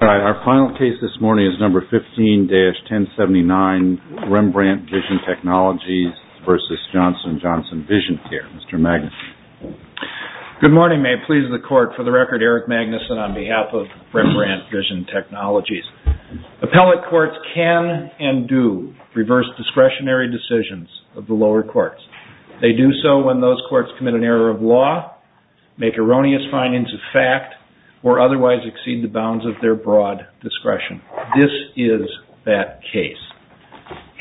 Our final case this morning is No. 15-1079, Rembrandt Vision Technologies v. Johnson & Johnson Vision Care. Mr. Magnuson. Good morning. May it please the Court, for the record, Eric Magnuson on behalf of Rembrandt Vision Technologies. Appellate courts can and do reverse discretionary decisions of the lower courts. They do so when those courts commit an error of law, make erroneous findings of fact, or otherwise exceed the bounds of their broad discretion. This is that case.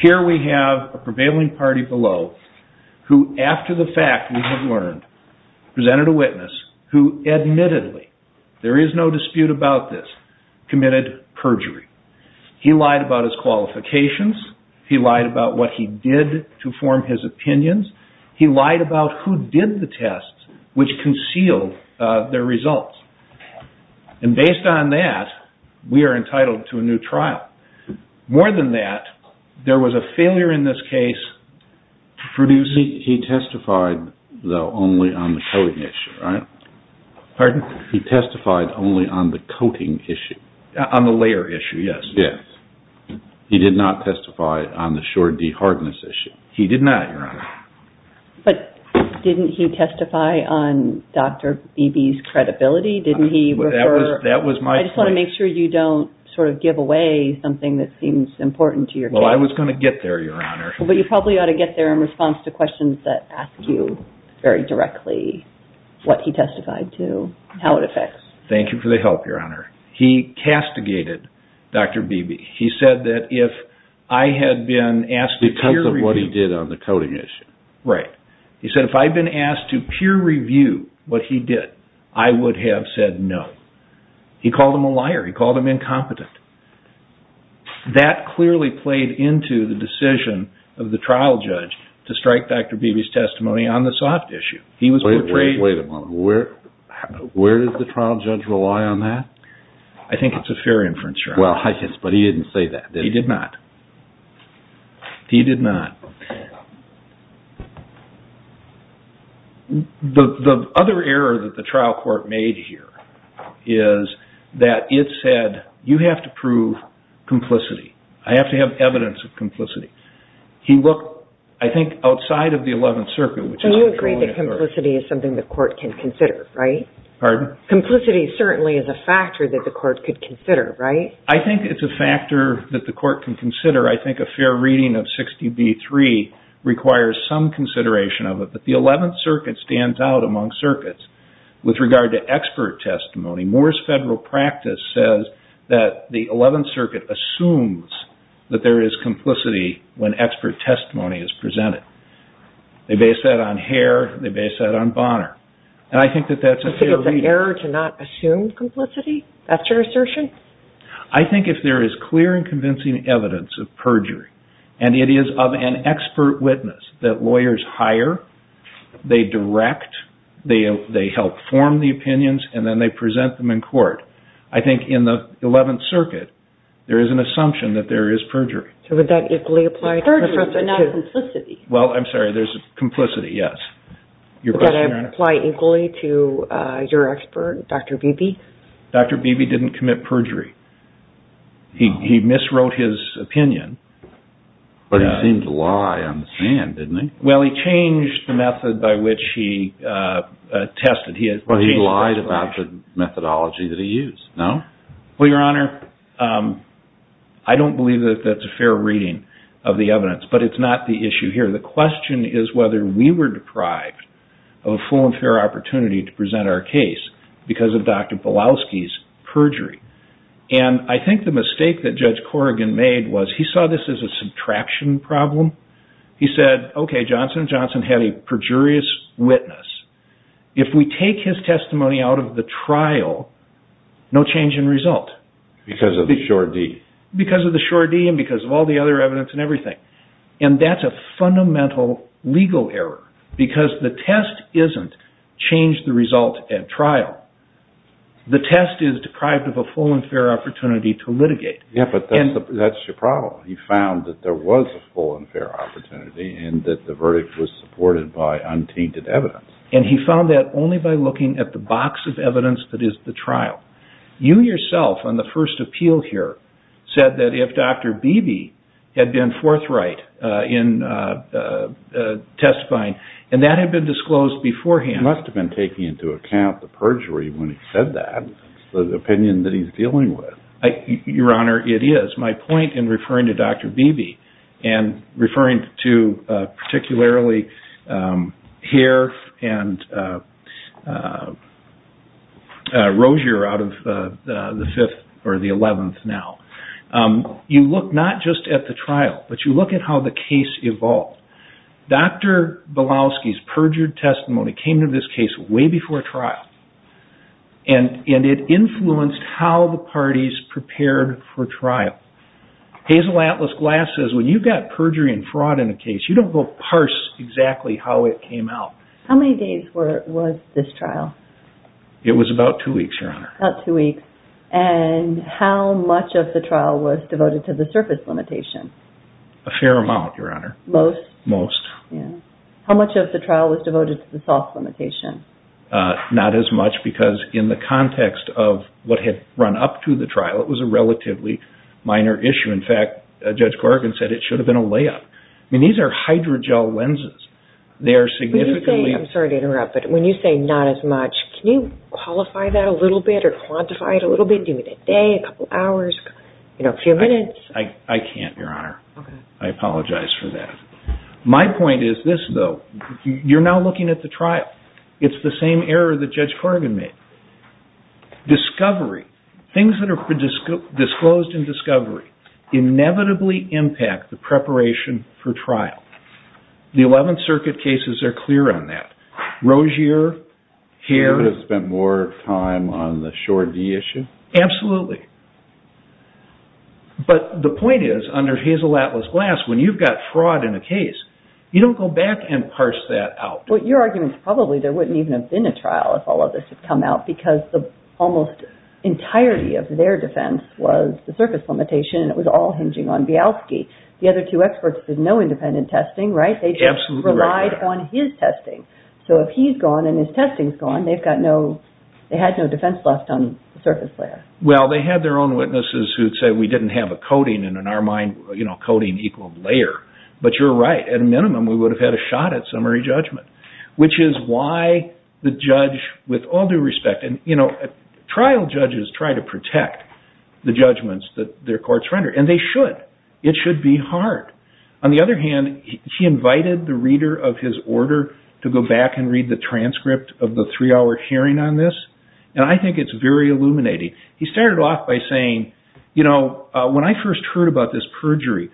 Here we have a prevailing party below who, after the fact we have learned, presented a witness who admittedly, there is no dispute about this, committed perjury. He lied about his qualifications. He lied about what he did to form his opinions. He lied about who did the tests which concealed their results. And based on that, we are entitled to a new trial. More than that, there was a failure in this case producing... He testified, though, only on the coating issue, right? Pardon? He testified only on the coating issue. On the layer issue, yes. Yes. He did not testify on the sure de-hardness issue. He did not, Your Honor. But didn't he testify on Dr. Beebe's credibility? Didn't he refer... That was my point. I just want to make sure you don't sort of give away something that seems important to your case. Well, I was going to get there, Your Honor. But you probably ought to get there in response to questions that ask you very directly what he testified to, how it affects... Thank you for the help, Your Honor. He castigated Dr. Beebe. He said that if I had been asked to peer review... Because of what he did on the coating issue. Right. He said if I had been asked to peer review what he did, I would have said no. He called him a liar. He called him incompetent. That clearly played into the decision of the trial judge to strike Dr. Beebe's testimony on the soft issue. He was portrayed... Wait a moment. Where does the trial judge rely on that? I think it's a fair inference, Your Honor. Well, I guess. But he didn't say that, did he? He did not. He did not. The other error that the trial court made here is that it said, you have to prove complicity. I have to have evidence of complicity. He looked, I think, outside of the Eleventh Circuit, which is controlling the court. So you agree that complicity is something the court can consider, right? Pardon? Complicity certainly is a factor that the court could consider, right? I think it's a factor that the court can consider. I think a fair reading of 60B3 requires some consideration of it. But the Eleventh Circuit stands out among circuits with regard to expert testimony. Moore's Federal Practice says that the Eleventh Circuit assumes that there is complicity when expert testimony is presented. They base that on Hare. They base that on Bonner. And I think that that's a fair reading. So you prefer to not assume complicity? That's your assertion? I think if there is clear and convincing evidence of perjury, and it is of an expert witness that lawyers hire, they direct, they help form the opinions, and then they present them in court, I think in the Eleventh Circuit, there is an assumption that there is perjury. So would that equally apply to Professor Tew? Perjury, but not complicity. Well, I'm sorry. There's complicity, yes. Your question, Your Honor? Would that apply equally to your expert, Dr. Beebe? Dr. Beebe didn't commit perjury. He miswrote his opinion. But he seemed to lie on the stand, didn't he? Well, he changed the method by which he tested. But he lied about the methodology that he used, no? Well, Your Honor, I don't believe that that's a fair reading of the evidence, but it's not the issue here. The question is whether we were deprived of a full and fair opportunity to present our case because of Dr. Belowski's perjury. And I think the mistake that Judge Corrigan made was he saw this as a subtraction problem. He said, okay, Johnson & Johnson had a perjurious witness. If we take his testimony out of the trial, no change in result. Because of the sure deed. Because of the sure deed, and because of all the other evidence and everything. And that's a fundamental legal error. Because the test isn't change the result at trial. The test is deprived of a full and fair opportunity to litigate. Yeah, but that's your problem. He found that there was a full and fair opportunity and that the verdict was supported by untainted evidence. And he found that only by looking at the box of evidence that is the trial. You yourself, on the first appeal here, said that if Dr. Beebe had been forthright in testifying, and that had been disclosed beforehand He must have been taking into account the perjury when he said that. The opinion that he's dealing with. Your Honor, it is. My point in referring to Dr. Beebe and referring to particularly Heer and Rozier out of the 5th or the 11th now. You look not just at the trial, but you look at how the case evolved. Dr. Belowski's perjured testimony came to this case way before trial. Hazel Atlas Glass says when you've got perjury and fraud in a case you don't go parse exactly how it came out. How many days was this trial? It was about 2 weeks, Your Honor. About 2 weeks. And how much of the trial was devoted to the surface limitation? A fair amount, Your Honor. Most? Most. How much of the trial was devoted to the soft limitation? Not as much because in the context of what had run up to the trial it was a relatively minor issue. In fact, Judge Corrigan said it should have been a layup. These are hydrogel lenses. They are significantly... I'm sorry to interrupt, but when you say not as much can you qualify that a little bit or quantify it a little bit? Do you mean a day, a couple hours, a few minutes? I can't, Your Honor. I apologize for that. My point is this, though. You're now looking at the trial. It's the same error that Judge Corrigan made. Discovery. Things that are disclosed in discovery inevitably impact the preparation for trial. The 11th Circuit cases are clear on that. Rozier, Hare... You would have spent more time on the Shore D issue? Absolutely. But the point is, under Hazel Atlas Glass when you've got fraud in a case you don't go back and parse that out. Your argument is probably there wouldn't even have been a trial if all of this had come out because the almost entirety of their defense was the surface limitation and it was all hinging on Bialski. The other two experts did no independent testing, right? They just relied on his testing. So if he's gone and his testing's gone they had no defense left on the surface layer. Well, they had their own witnesses who'd say we didn't have a coding and in our mind coding equaled layer. But you're right. At a minimum we would have had a shot at summary judgment. Which is why the judge with all due respect trial judges try to protect the judgments that their courts render. And they should. It should be hard. On the other hand he invited the reader of his order to go back and read the transcript of the three hour hearing on this and I think it's very illuminating. He started off by saying when I first heard about this perjury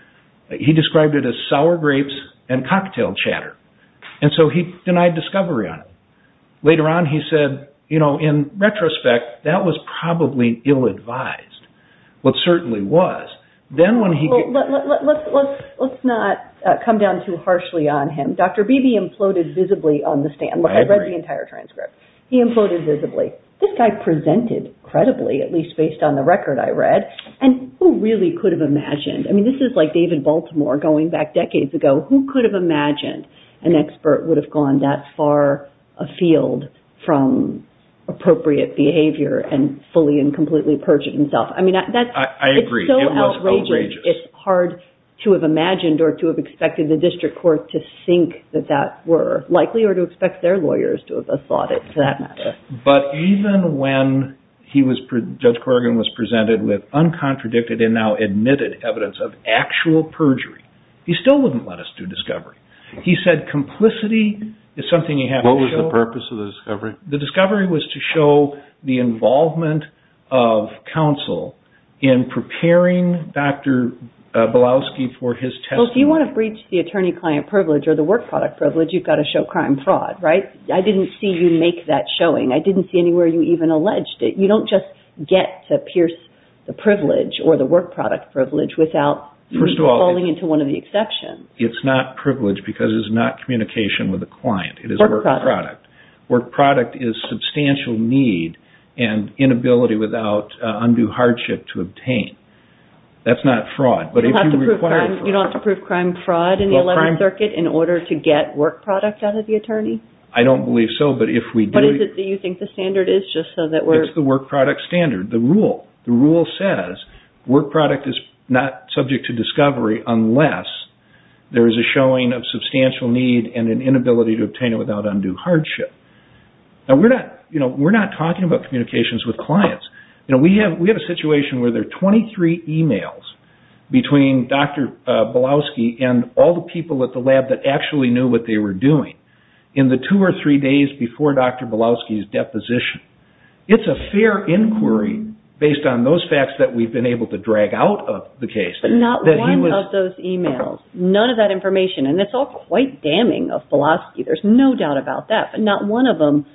he described it as sour grapes and cocktail chatter. And so he denied discovery on it. Later on he said in retrospect that was probably ill-advised. It certainly was. Let's not come down too harshly on him. Dr. Beebe imploded visibly on the stand. I read the entire transcript. He imploded visibly. This guy presented credibly at least based on the record I read and who really could have imagined This is like David Baltimore going back decades ago. Who could have imagined an expert would have gone that far afield from appropriate behavior and fully and completely purged himself. I agree. It was outrageous. It's hard to have imagined or expected the district court to think that that were likely or to expect their lawyers to have thought it to that matter. But even when Judge Corrigan was presented with uncontradicted and now admitted evidence of actual perjury he still wouldn't let us do discovery. He said complicity What was the purpose of the discovery? The discovery was to show the involvement of counsel in preparing Dr. Belowski for his testimony. If you want to breach the attorney-client privilege or the work product privilege you've got to show crime fraud. I didn't see you make that showing. I didn't see anywhere you even alleged it. You don't just get to pierce the privilege or the work product privilege without falling into one of the exceptions. It's not privilege because it's not communication with the client. It is work product. Work product is substantial need and inability without undue hardship to obtain. That's not fraud. in the 11th Circuit in order to get work product out of the attorney? I don't believe so. What do you think the standard is? It's the work product standard. The rule says work product is not subject to discovery unless there is a showing of substantial need and an inability to obtain it without undue hardship. We're not talking about communications with clients. We have a situation where there are 23 emails between Dr. Belowski and all the people at the lab that actually knew what they were doing in the two or three days before Dr. Belowski's deposition. It's a fair inquiry based on those facts that we've been able to drag out of the case. None of those emails, none of that information, and it's all quite damning of Belowski, there's no doubt about that but not one of them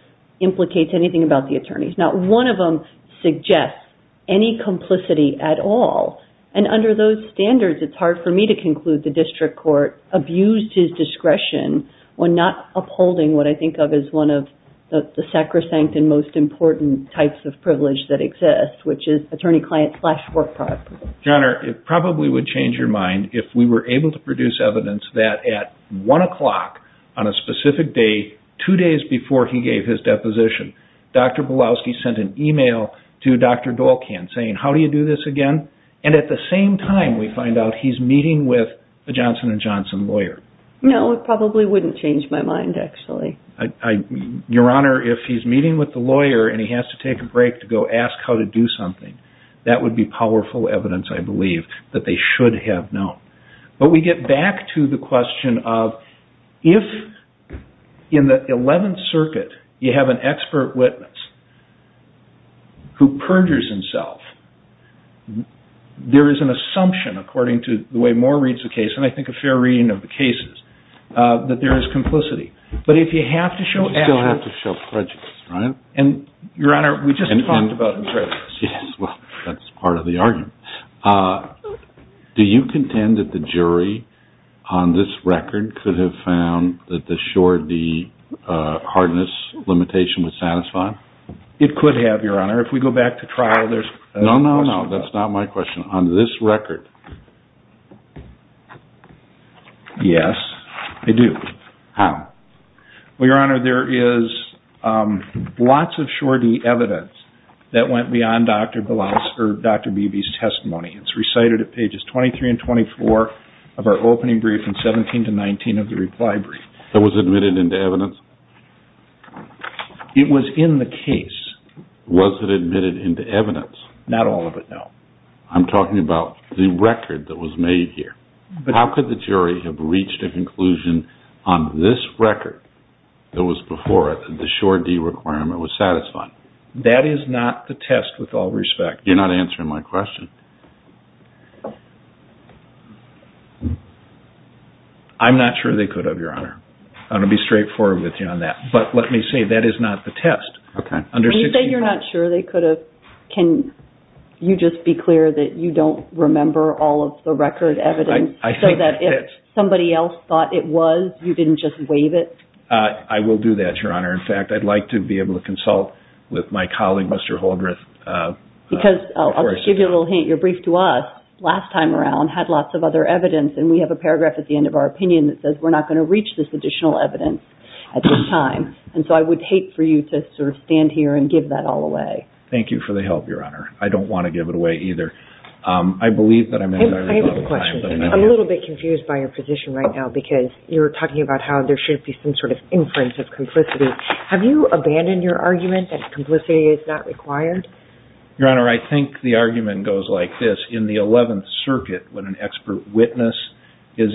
implicates anything about the attorneys. Not one of them suggests any complicity at all and under those standards it's hard for me to conclude that the district court abused his discretion when not upholding what I think of as one of the sacrosanct and most important types of privilege that exist which is attorney-client slash work product. John, it probably would change your mind if we were able to produce evidence that at one o'clock on a specific day, two days before he gave his deposition Dr. Belowski sent an email to Dr. Dolkan saying, how do you do this again? And at the same time we find out he's meeting with a Johnson & Johnson lawyer. No, it probably wouldn't change my mind actually. Your Honor, if he's meeting with the lawyer and he has to take a break to go ask how to do something that would be powerful evidence I believe that they should have known. But we get back to the question of if in the 11th Circuit you have an expert witness who perjures himself there is an assumption according to the way Moore reads the case, and I think a fair reading of the cases that there is complicity. But if you have to show actual prejudice, right? Your Honor, we just talked about prejudice. Yes, well, that's part of the argument. Do you contend that the jury that the short D hardness limitation was satisfying? It could have, Your Honor. Your Honor, if we go back to trial, there's... No, no, no, that's not my question. On this record... Yes, I do. How? Well, Your Honor, there is lots of short D evidence that went beyond Dr. Bilas, or Dr. Beebe's testimony. It's recited at pages 23 and 24 of our opening brief in 17 to 19 of the reply brief. That was admitted into evidence? It was in the case. Was it admitted into evidence? Not all of it, no. I'm talking about the record that was made here. How could the jury have reached a conclusion on this record that was before it, that the short D requirement was satisfying? That is not the test, with all respect. You're not answering my question. I'm not sure they could have, Your Honor. I'm going to be straightforward with you on that. But let me say, that is not the test. When you say you're not sure they could have, can you just be clear that you don't remember all of the record evidence so that if somebody else thought it was, you didn't just waive it? I will do that, Your Honor. In fact, I'd like to be able to consult with my colleague, Mr. Holdreth. Because, I'll just give you a little hint, your brief to us, last time around, had lots of other evidence, and we have a paragraph at the end of our opinion that says we're not going to reach this additional evidence at this time. And so I would hate for you to sort of stand here and give that all away. Thank you for the help, Your Honor. I don't want to give it away either. I believe that I'm in a very good time. I have a question. I'm a little bit confused by your position right now because you were talking about how there should be some sort of inference of complicity. Have you abandoned your argument that complicity is not required? Your Honor, I think the argument goes like this. In the Eleventh Circuit, when an expert witness is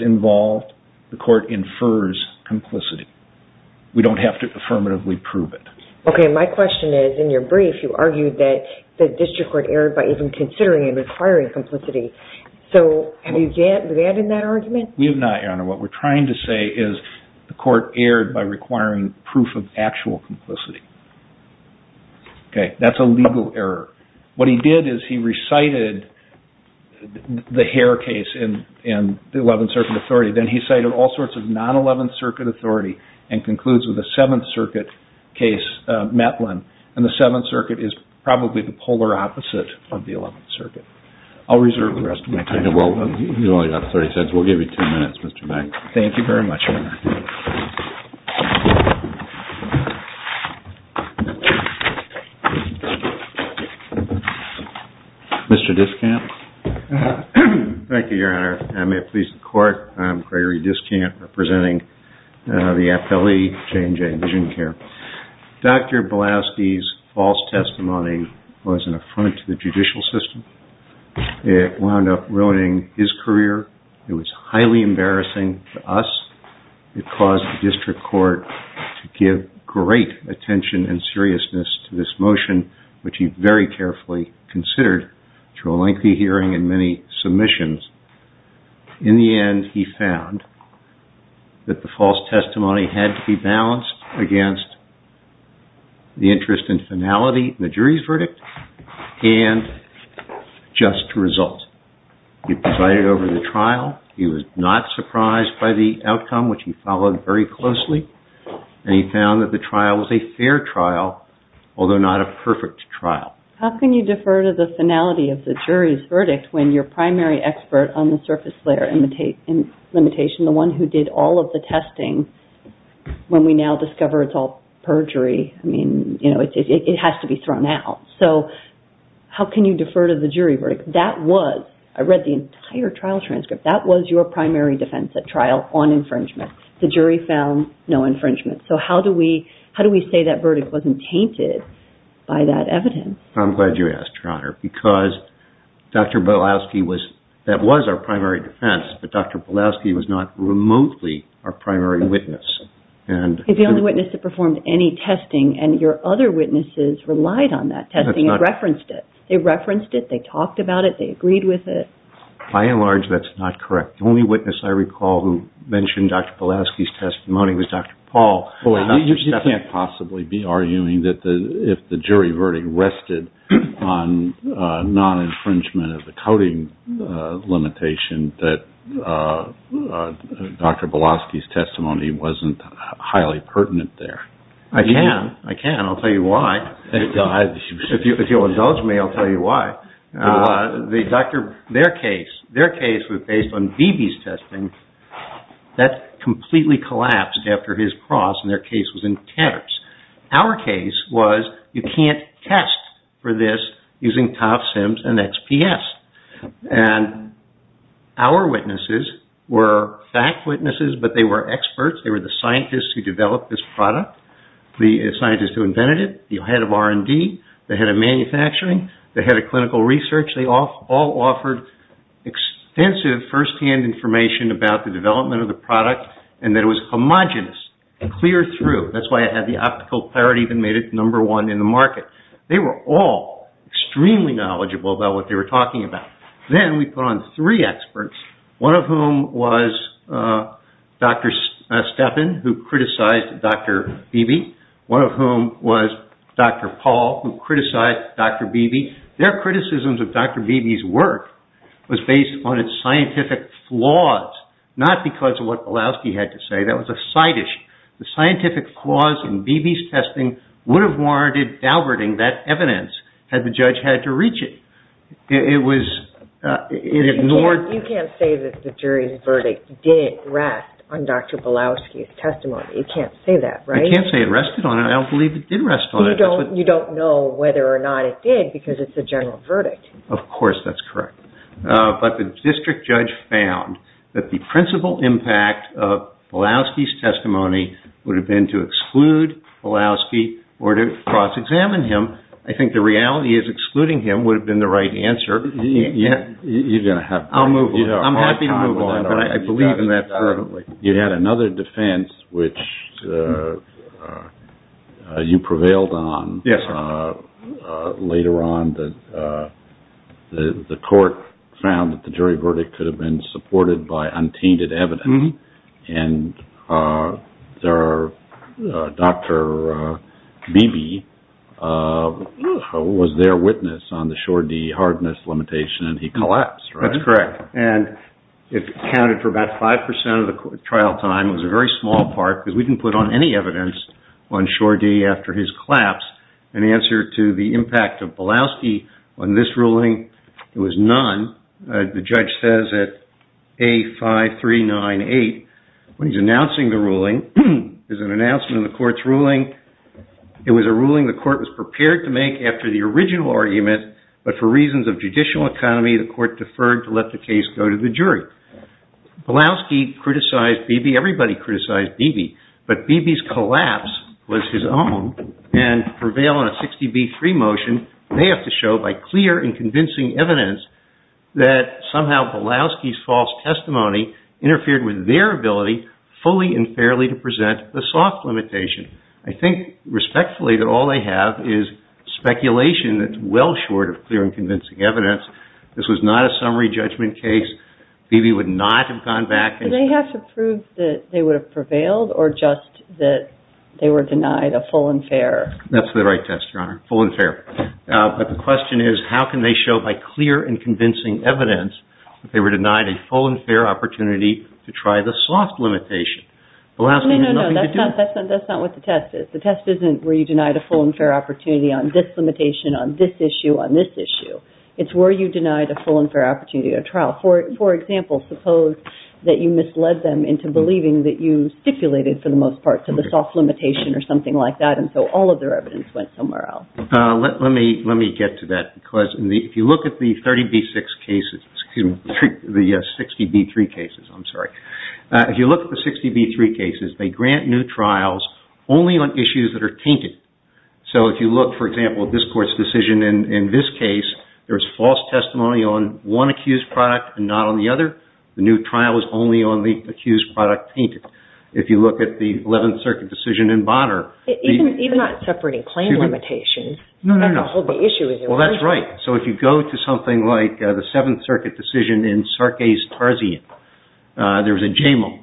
complicit, we don't have to affirmatively prove it. Okay, my question is, in your brief, you argued that the district court erred by even considering it requiring complicity. So, have you abandoned that argument? We have not, Your Honor. What we're trying to say is the court erred by requiring proof of actual complicity. Okay, that's a legal error. What he did is he recited the Hare case in the Eleventh Circuit authority, then he cited all sorts of non-Eleventh Circuit authority and concludes with a Seventh Circuit case, Metlin, and the Seventh Circuit is probably the polar opposite of the Eleventh Circuit. I'll reserve the rest of my time. You've only got 30 seconds. We'll give you two minutes, Mr. Mack. Thank you very much, Your Honor. Mr. Discamp? Thank you, Your Honor. I'm Gregory Discamp, representing the appellee, J&J VisionCare. Dr. Bilaski's false testimony was an affront to the judicial system. It wound up ruining his career. It was highly embarrassing to us. It caused the district court to give great attention and seriousness to this motion, which he very carefully considered through a lengthy hearing and many submissions. In the end, he found that the false testimony had to be balanced against the interest in finality in the jury's verdict and just result. He presided over the trial. He was not surprised by the outcome, which he followed very closely, and he found that the trial was a fair trial, although not a perfect trial. How can you defer to the finality of the jury's verdict when your primary expert on the surface layer limitation, the one who did all of the testing, when we now discover it's all perjury, I mean, you know, it has to be thrown out. So how can you defer to the jury verdict? That was, I read the entire trial transcript, that was your primary defense at trial on infringement. The jury found no infringement. verdict wasn't tainted by that evidence? I'm glad you asked, Your Honor, because Dr. Bilowski was, that was our primary defense, but Dr. Bilowski was not remotely our primary witness. He's the only witness that performed any testing, and your other witnesses relied on that testing and referenced it. They referenced it, they talked about it, they agreed with it. By and large, that's not correct. The only witness I recall who mentioned Dr. Bilowski's testimony was Dr. Paul. You can't possibly be arguing that if the jury verdict rested on non-infringement of the coding limitation that Dr. Bilowski's testimony wasn't highly pertinent there. I can. I can. I'll tell you why. If you'll indulge me, I'll tell you why. Their case was based on Beebe's testing. That completely collapsed after his cross and their case was in tatters. Our case was you can't test for this using TOF, CIMS, and XPS. Our witnesses were fact witnesses, but they were experts. They were the scientists who developed this product, the scientists who invented it, the head of R&D, the head of manufacturing, the head of clinical research. They all offered extensive first-hand information about the development of the product and that it was homogenous, clear through. That's why it had the optical clarity and made it number one in the market. They were all extremely knowledgeable about what they were talking about. Then we put on three experts, one of whom was Dr. Steppen who criticized Dr. Beebe, one of whom was Dr. Paul who criticized Dr. Beebe. Their criticisms of Dr. Beebe's work was based on its scientific flaws, not because of what the scientific flaws in Beebe's testing would have warranted Dalberting that evidence had the judge had to reach it. It ignored... You can't say that the jury's verdict didn't rest on Dr. Belowski's testimony. You can't say that, right? I can't say it rested on it. I don't believe it did rest on it. You don't know whether or not it did because it's a general verdict. Of course that's correct. But the district judge found that the principal impact of Belowski's testimony would have been to exclude Belowski or to cross-examine him. I think the reality is excluding him would have been the right answer. You're going to have to... I'm happy to move on. You had another defense which you prevailed on later on. The court found that the jury verdict could have been and Dr. Beebe was their witness on the Schordy hardness limitation and he collapsed, right? That's correct. It accounted for about 5% of the trial time. It was a very small part because we didn't put on any evidence on Schordy after his collapse. The answer to the impact of Belowski on this ruling was none. The judge says that A5398 when he's announcing the ruling there's an announcement in the court's ruling it was a ruling the court was prepared to make after the original argument but for reasons of judicial economy the court deferred to let the case go to the jury. Belowski criticized Beebe, everybody criticized Beebe, but Beebe's collapse was his own and prevail on a 60B3 motion they have to show by clear and convincing evidence that somehow Belowski's false testimony interfered with their ability fully and fairly to present the soft limitation. I think respectfully that all they have is speculation that's well short of clear and convincing evidence. This was not a summary judgment case. Beebe would not have gone back and Do they have to prove that they would have prevailed or just that they were denied a full and fair? That's the right test, Your Honor. Full and fair. But the question is how can they show by clear and convincing evidence that they were denied a full and fair opportunity to try the soft limitation? Belowski had nothing to do with it. That's not what the test is. The test isn't where you denied a full and fair opportunity on this limitation, on this issue, on this issue. It's where you denied a full and fair opportunity at trial. For example, suppose that you misled them into believing that you stipulated for the most part to the soft limitation or something like that and so all of their evidence went somewhere else. Let me get to that because if you look at the 30B6 cases, excuse me, the 60B3 cases, I'm sorry. If you look at the 60B3 cases they grant new trials only on issues that are tainted. So if you look, for example, at this court's decision in this case, there's false testimony on one accused product and not on the other. The new trial is only on the accused product tainted. If you look at the 11th Circuit decision in Bonner... Even not separating claim limitations... No, no, no. Well, that's right. So if you go to something like the 7th Circuit decision in Sarkey's Tarzian, there was a JAMAL,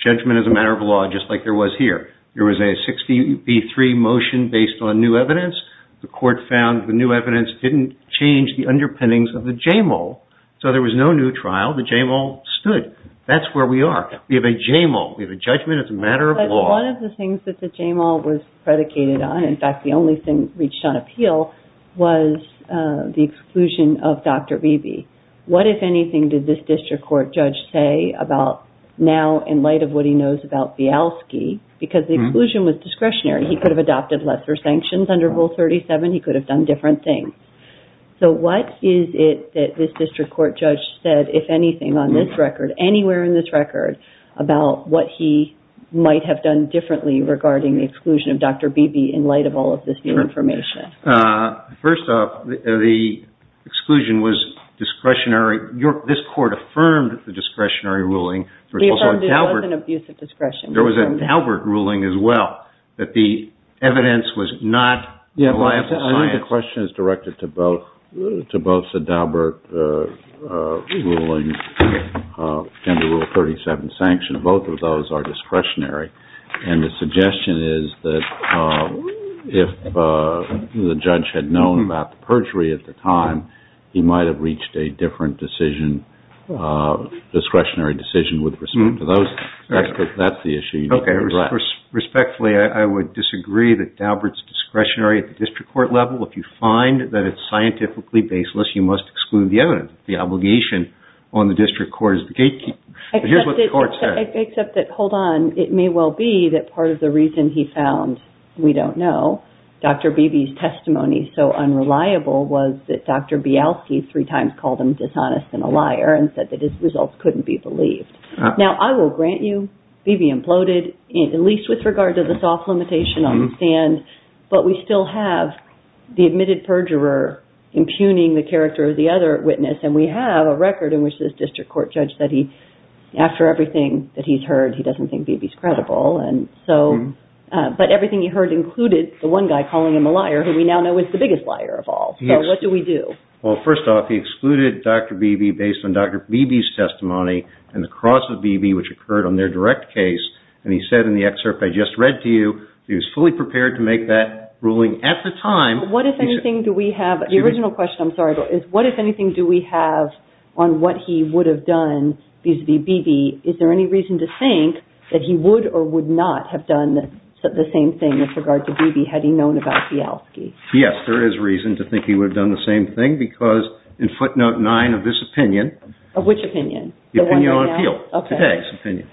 judgment as a matter of law, just like there was here. There was a 60B3 motion based on new evidence. The court found the new evidence didn't change the underpinnings of the JAMAL. So there was no new trial. The JAMAL stood. That's where we are. We have a JAMAL. We have a judgment as a matter of law. But one of the things that the JAMAL was predicated on, in fact, the only thing reached on appeal, was the exclusion of Dr. Beebe. What, if anything, did this district court judge say about now, in light of what he knows about Bialski? Because the exclusion was discretionary. He could have adopted lesser sanctions under Rule 37. He could have done different things. So what is it that this district court judge said, if anything, on this record, anywhere in this record, about what he might have done differently regarding the exclusion of Dr. Beebe, in light of all of this new information? First off, the exclusion was discretionary. This court affirmed the discretionary ruling. We affirmed it wasn't abuse of discretion. There was a Daubert ruling as well, that the evidence was not reliable science. I think the question is directed to both the Daubert ruling and the Rule 37 sanction. Both of those are discretionary. And the suggestion is that if the judge had known about the perjury at the time, he might have reached a different discretionary decision with respect to those. That's the issue you need to address. Respectfully, I would disagree that Daubert's discretionary at the district court level, if you find that it's scientifically baseless, you must exclude the evidence. The obligation on the district court is the gatekeeper. Except that, hold on, it may well be that part of the reason he found we don't know, Dr. Beebe's testimony so unreliable was that Dr. Bialski three times called him dishonest and a liar and said that his results couldn't be believed. Now, I will grant you, Beebe imploded, at least with regard to the soft limitation on the stand, but we still have the admitted perjurer impugning the character of the other witness, and we have a record in which this district court judge said he, after everything that he's heard, he doesn't think Beebe's credible. But everything he heard included the one guy calling him a liar, who we now know is the biggest liar of all. So what do we do? Well, first off, he excluded Dr. Beebe based on Dr. Beebe's testimony and the cross of Beebe, which occurred on their direct case, and he said in the excerpt I just read to you, he was fully prepared to make that ruling at the time. What, if anything, do we have, the original question, I'm sorry, is what, if anything, do we have on what he would have done vis-a-vis Beebe? Is there any reason to think that he would or would not have done the same thing with regard to Beebe had he known about Bialski? Yes, there is reason to think he would have done the same thing because in footnote nine of this opinion. Of which opinion? The opinion on appeal, today's opinion.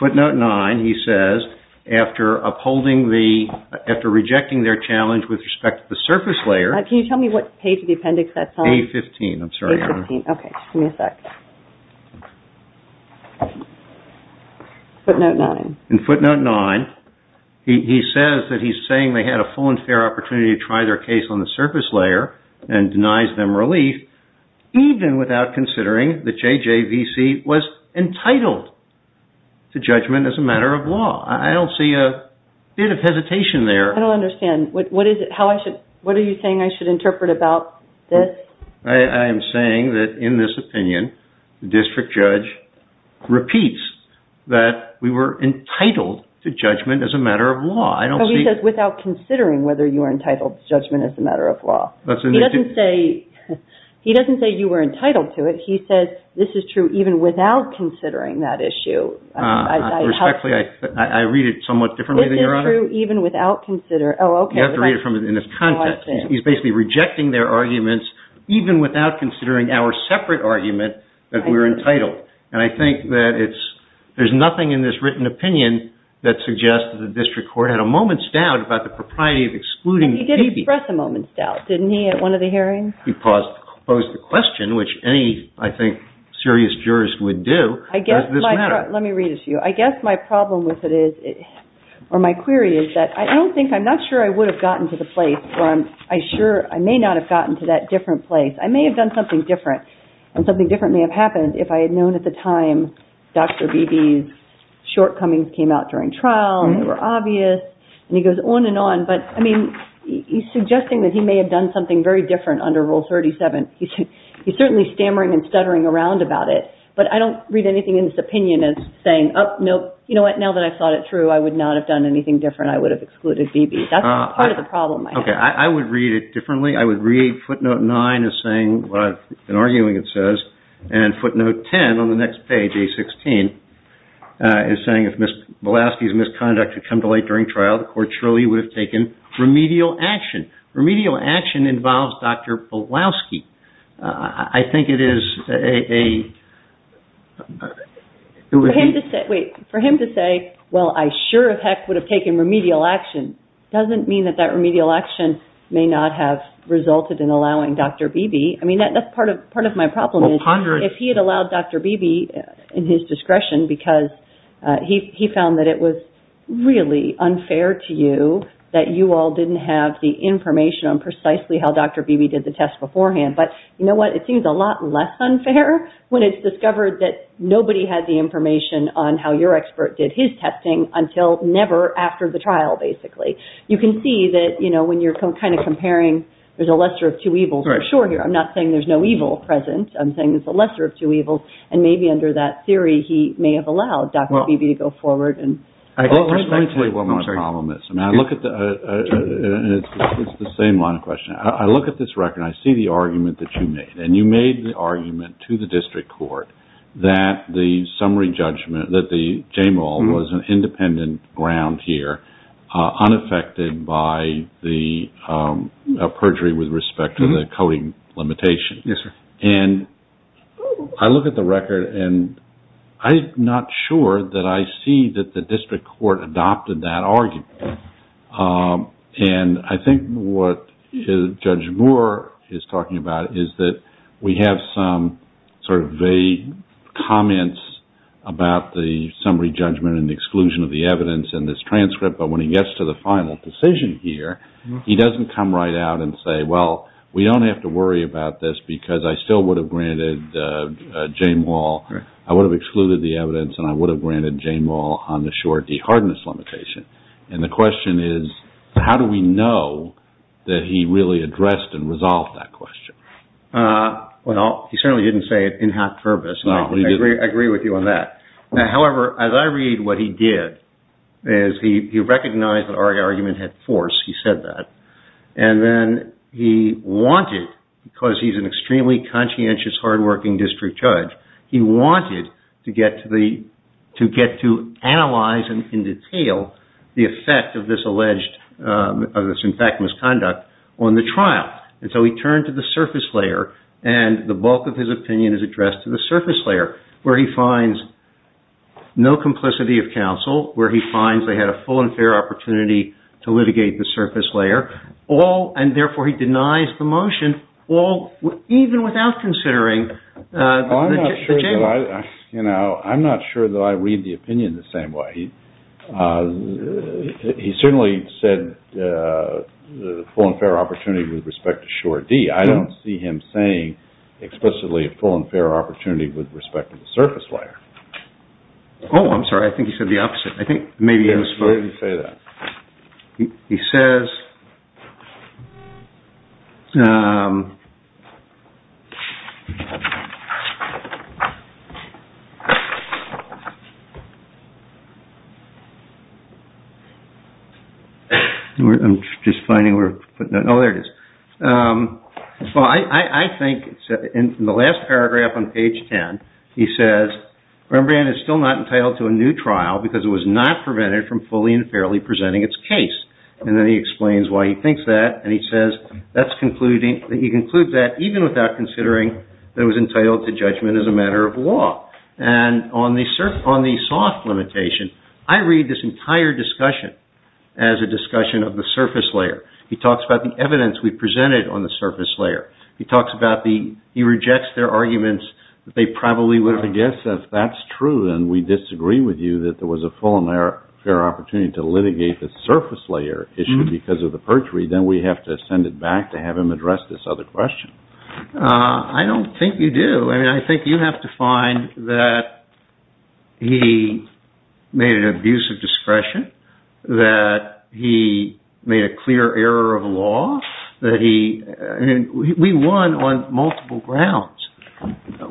Footnote nine, he says, after upholding the, after rejecting their challenge with respect to the surface layer. Can you tell me what page of the appendix that's on? A15, I'm sorry. A15, okay, give me a sec. Footnote nine. In footnote nine, he says that he's saying they had a full and fair opportunity to try their case on the surface layer and denies them relief, even without considering that J.J.V.C. was entitled to judgment as a matter of law. I don't see a bit of hesitation there. I don't understand. What are you saying I should interpret about this? I am saying that in this opinion, the district judge repeats that we were entitled to judgment as a matter of law. Oh, he says without considering whether you were entitled to judgment as a matter of law. He doesn't say he doesn't say you were entitled to it, he says this is true even without considering that issue. Respectfully, I read it somewhat differently than you are. This is true even without considering, oh, okay. You have to read it in its content. He's basically rejecting their arguments even without considering our separate argument that we were entitled. And I think that there's nothing in this written opinion that suggests that the district court had a moment's doubt about the propriety of excluding the TV. And he did express a moment's doubt, didn't he, at one of the hearings? He posed the question, which any, I think, serious jurist would do. Does this matter? Let me read it to you. I guess my problem with it is, or my query is that I don't think, I'm not sure I would have gotten to the place where I'm, I sure, I may not have gotten to that different place. I may have done something different, and something different may have happened if I had known at the time Dr. Beebe's shortcomings came out during trial, they were obvious, and he goes on and on, but, I mean, he's suggesting that he may have done something very different under Rule 37. He's certainly stammering and anything in his opinion is saying, you know what, now that I've thought it through, I would not have done anything different. I would have excluded Beebe. That's part of the problem. I would read it differently. I would read footnote 9 as saying what I've been arguing it says, and footnote 10 on the next page, A16, is saying if Belowski's misconduct had come to light during trial, the court surely would have taken remedial action. Remedial action involves Dr. Belowski. I think it is a Wait, for him to say, well, I sure as heck would have taken remedial action doesn't mean that that remedial action may not have resulted in allowing Dr. Beebe. I mean, that's part of my problem. If he had allowed Dr. Beebe in his discretion because he found that it was really unfair to you that you all didn't have the information on precisely how Dr. Beebe did the test beforehand, but you know what? It seems a lot less unfair when it's discovered that nobody had the information on how your expert did his testing until never after the trial, basically. You can see that, you know, when you're kind of comparing, there's a lesser of two evils for sure here. I'm not saying there's no evil present. I'm saying there's a lesser of two evils and maybe under that theory he may have allowed Dr. Beebe to go forward and Well, that's exactly what my problem is. I mean, I look at the it's the same line of question. I look at this record and I see the argument that you made, and you made the argument to the district court that the summary judgment, that the JAMAL was an independent ground here, unaffected by the perjury with respect to the coding limitation. And I look at the record and I'm not sure that I see that the district court adopted that argument. And I think what Judge Moore is talking about is that we have some sort of vague comments about the summary judgment and exclusion of the evidence in this transcript but when he gets to the final decision here, he doesn't come right out and say, well, we don't have to worry about this because I still would have granted JAMAL I would have excluded the evidence and I would have granted JAMAL on the short de-hardness limitation. And the question is how do we know that he really addressed and resolved that question? Well, he certainly didn't say it in half-purpose and I agree with you on that. However, as I read what he did is he recognized that our argument had force, he said that, and then he wanted, because he's an extremely conscientious, hard-working district judge, he wanted to get to the, to get to analyze in detail the effect of this alleged of this in fact misconduct on the trial. And so he turned to the surface layer and the bulk of his opinion is addressed to the surface layer where he finds no complicity of counsel where he finds they had a full and fair opportunity to litigate the surface layer all, and therefore he denies the motion, all even without considering the JAMAL. You know, I'm not sure that I read the opinion the same way. He certainly said the full and fair opportunity with respect to Shore D. I don't see him saying explicitly a full and fair opportunity with respect to the surface layer. Oh, I'm sorry. I think he said the opposite. Where did he say that? He says I'm just finding where Oh, there it is. I think in the last paragraph on page 10, he says Rembrandt is still not entitled to a new trial because it was not prevented from fully and fairly presenting its case. And then he explains why he thinks that and he says that's concluding that he concludes that even without considering that it was entitled to judgment as a matter of law. And on the soft limitation, I read this entire discussion as a discussion of the surface layer. He talks about the evidence we presented on the surface layer. He talks about the he rejects their arguments that they probably would have. I guess if that's true and we disagree with you that there was a full and fair opportunity to litigate the surface layer issue because of the perjury, then we have to send it back to have him address this other question. I don't think you do. I think you have to find that he made an abuse of discretion that he made a clear error of law that he we won on multiple grounds.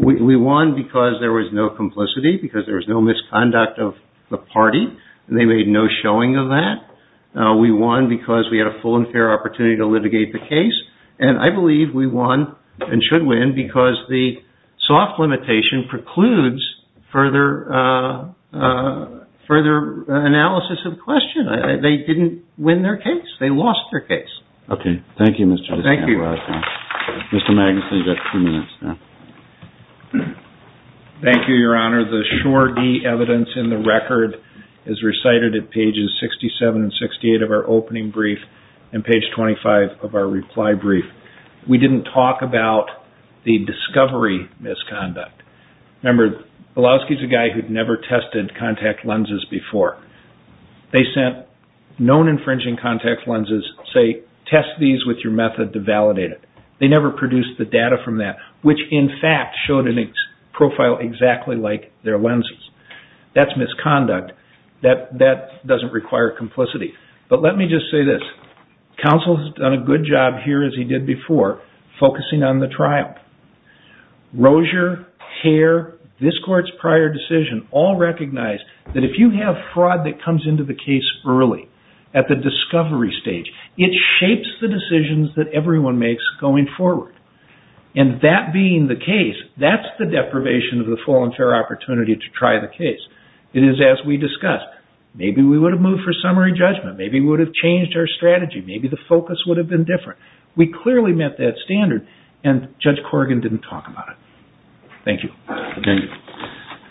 We won because there was no complicity because there was no misconduct of the party and they made no showing of that. We won because we had a full and fair opportunity to litigate the case and I believe we won and we should win because the soft limitation precludes further analysis of the question. They didn't win their case. They lost their case. Thank you, Mr. Thank you, Your Honor. The sure evidence in the record is recited at pages 67 and 68 of our opening brief and page 25 of our reply brief. We didn't talk about the discovery misconduct. Remember, Bilowski's a guy who'd never tested contact lenses before. They sent known infringing contact lenses, say, test these with your method to validate it. They never produced the data from that, which in fact showed a profile exactly like their lenses. That's misconduct. That doesn't require complicity. But let me just say this. Counsel's done a good job here as he did before, focusing on the trial. Rozier, Hare, this court's prior decision all recognize that if you have fraud that comes into the case early, at the discovery stage, it shapes the decisions that everyone makes going forward. And that being the case, that's the deprivation of the full and fair opportunity to try the case. It is as we discussed. Maybe we would have moved for summary strategy. Maybe the focus would have been different. We clearly met that standard and Judge Corrigan didn't talk about it. Thank you.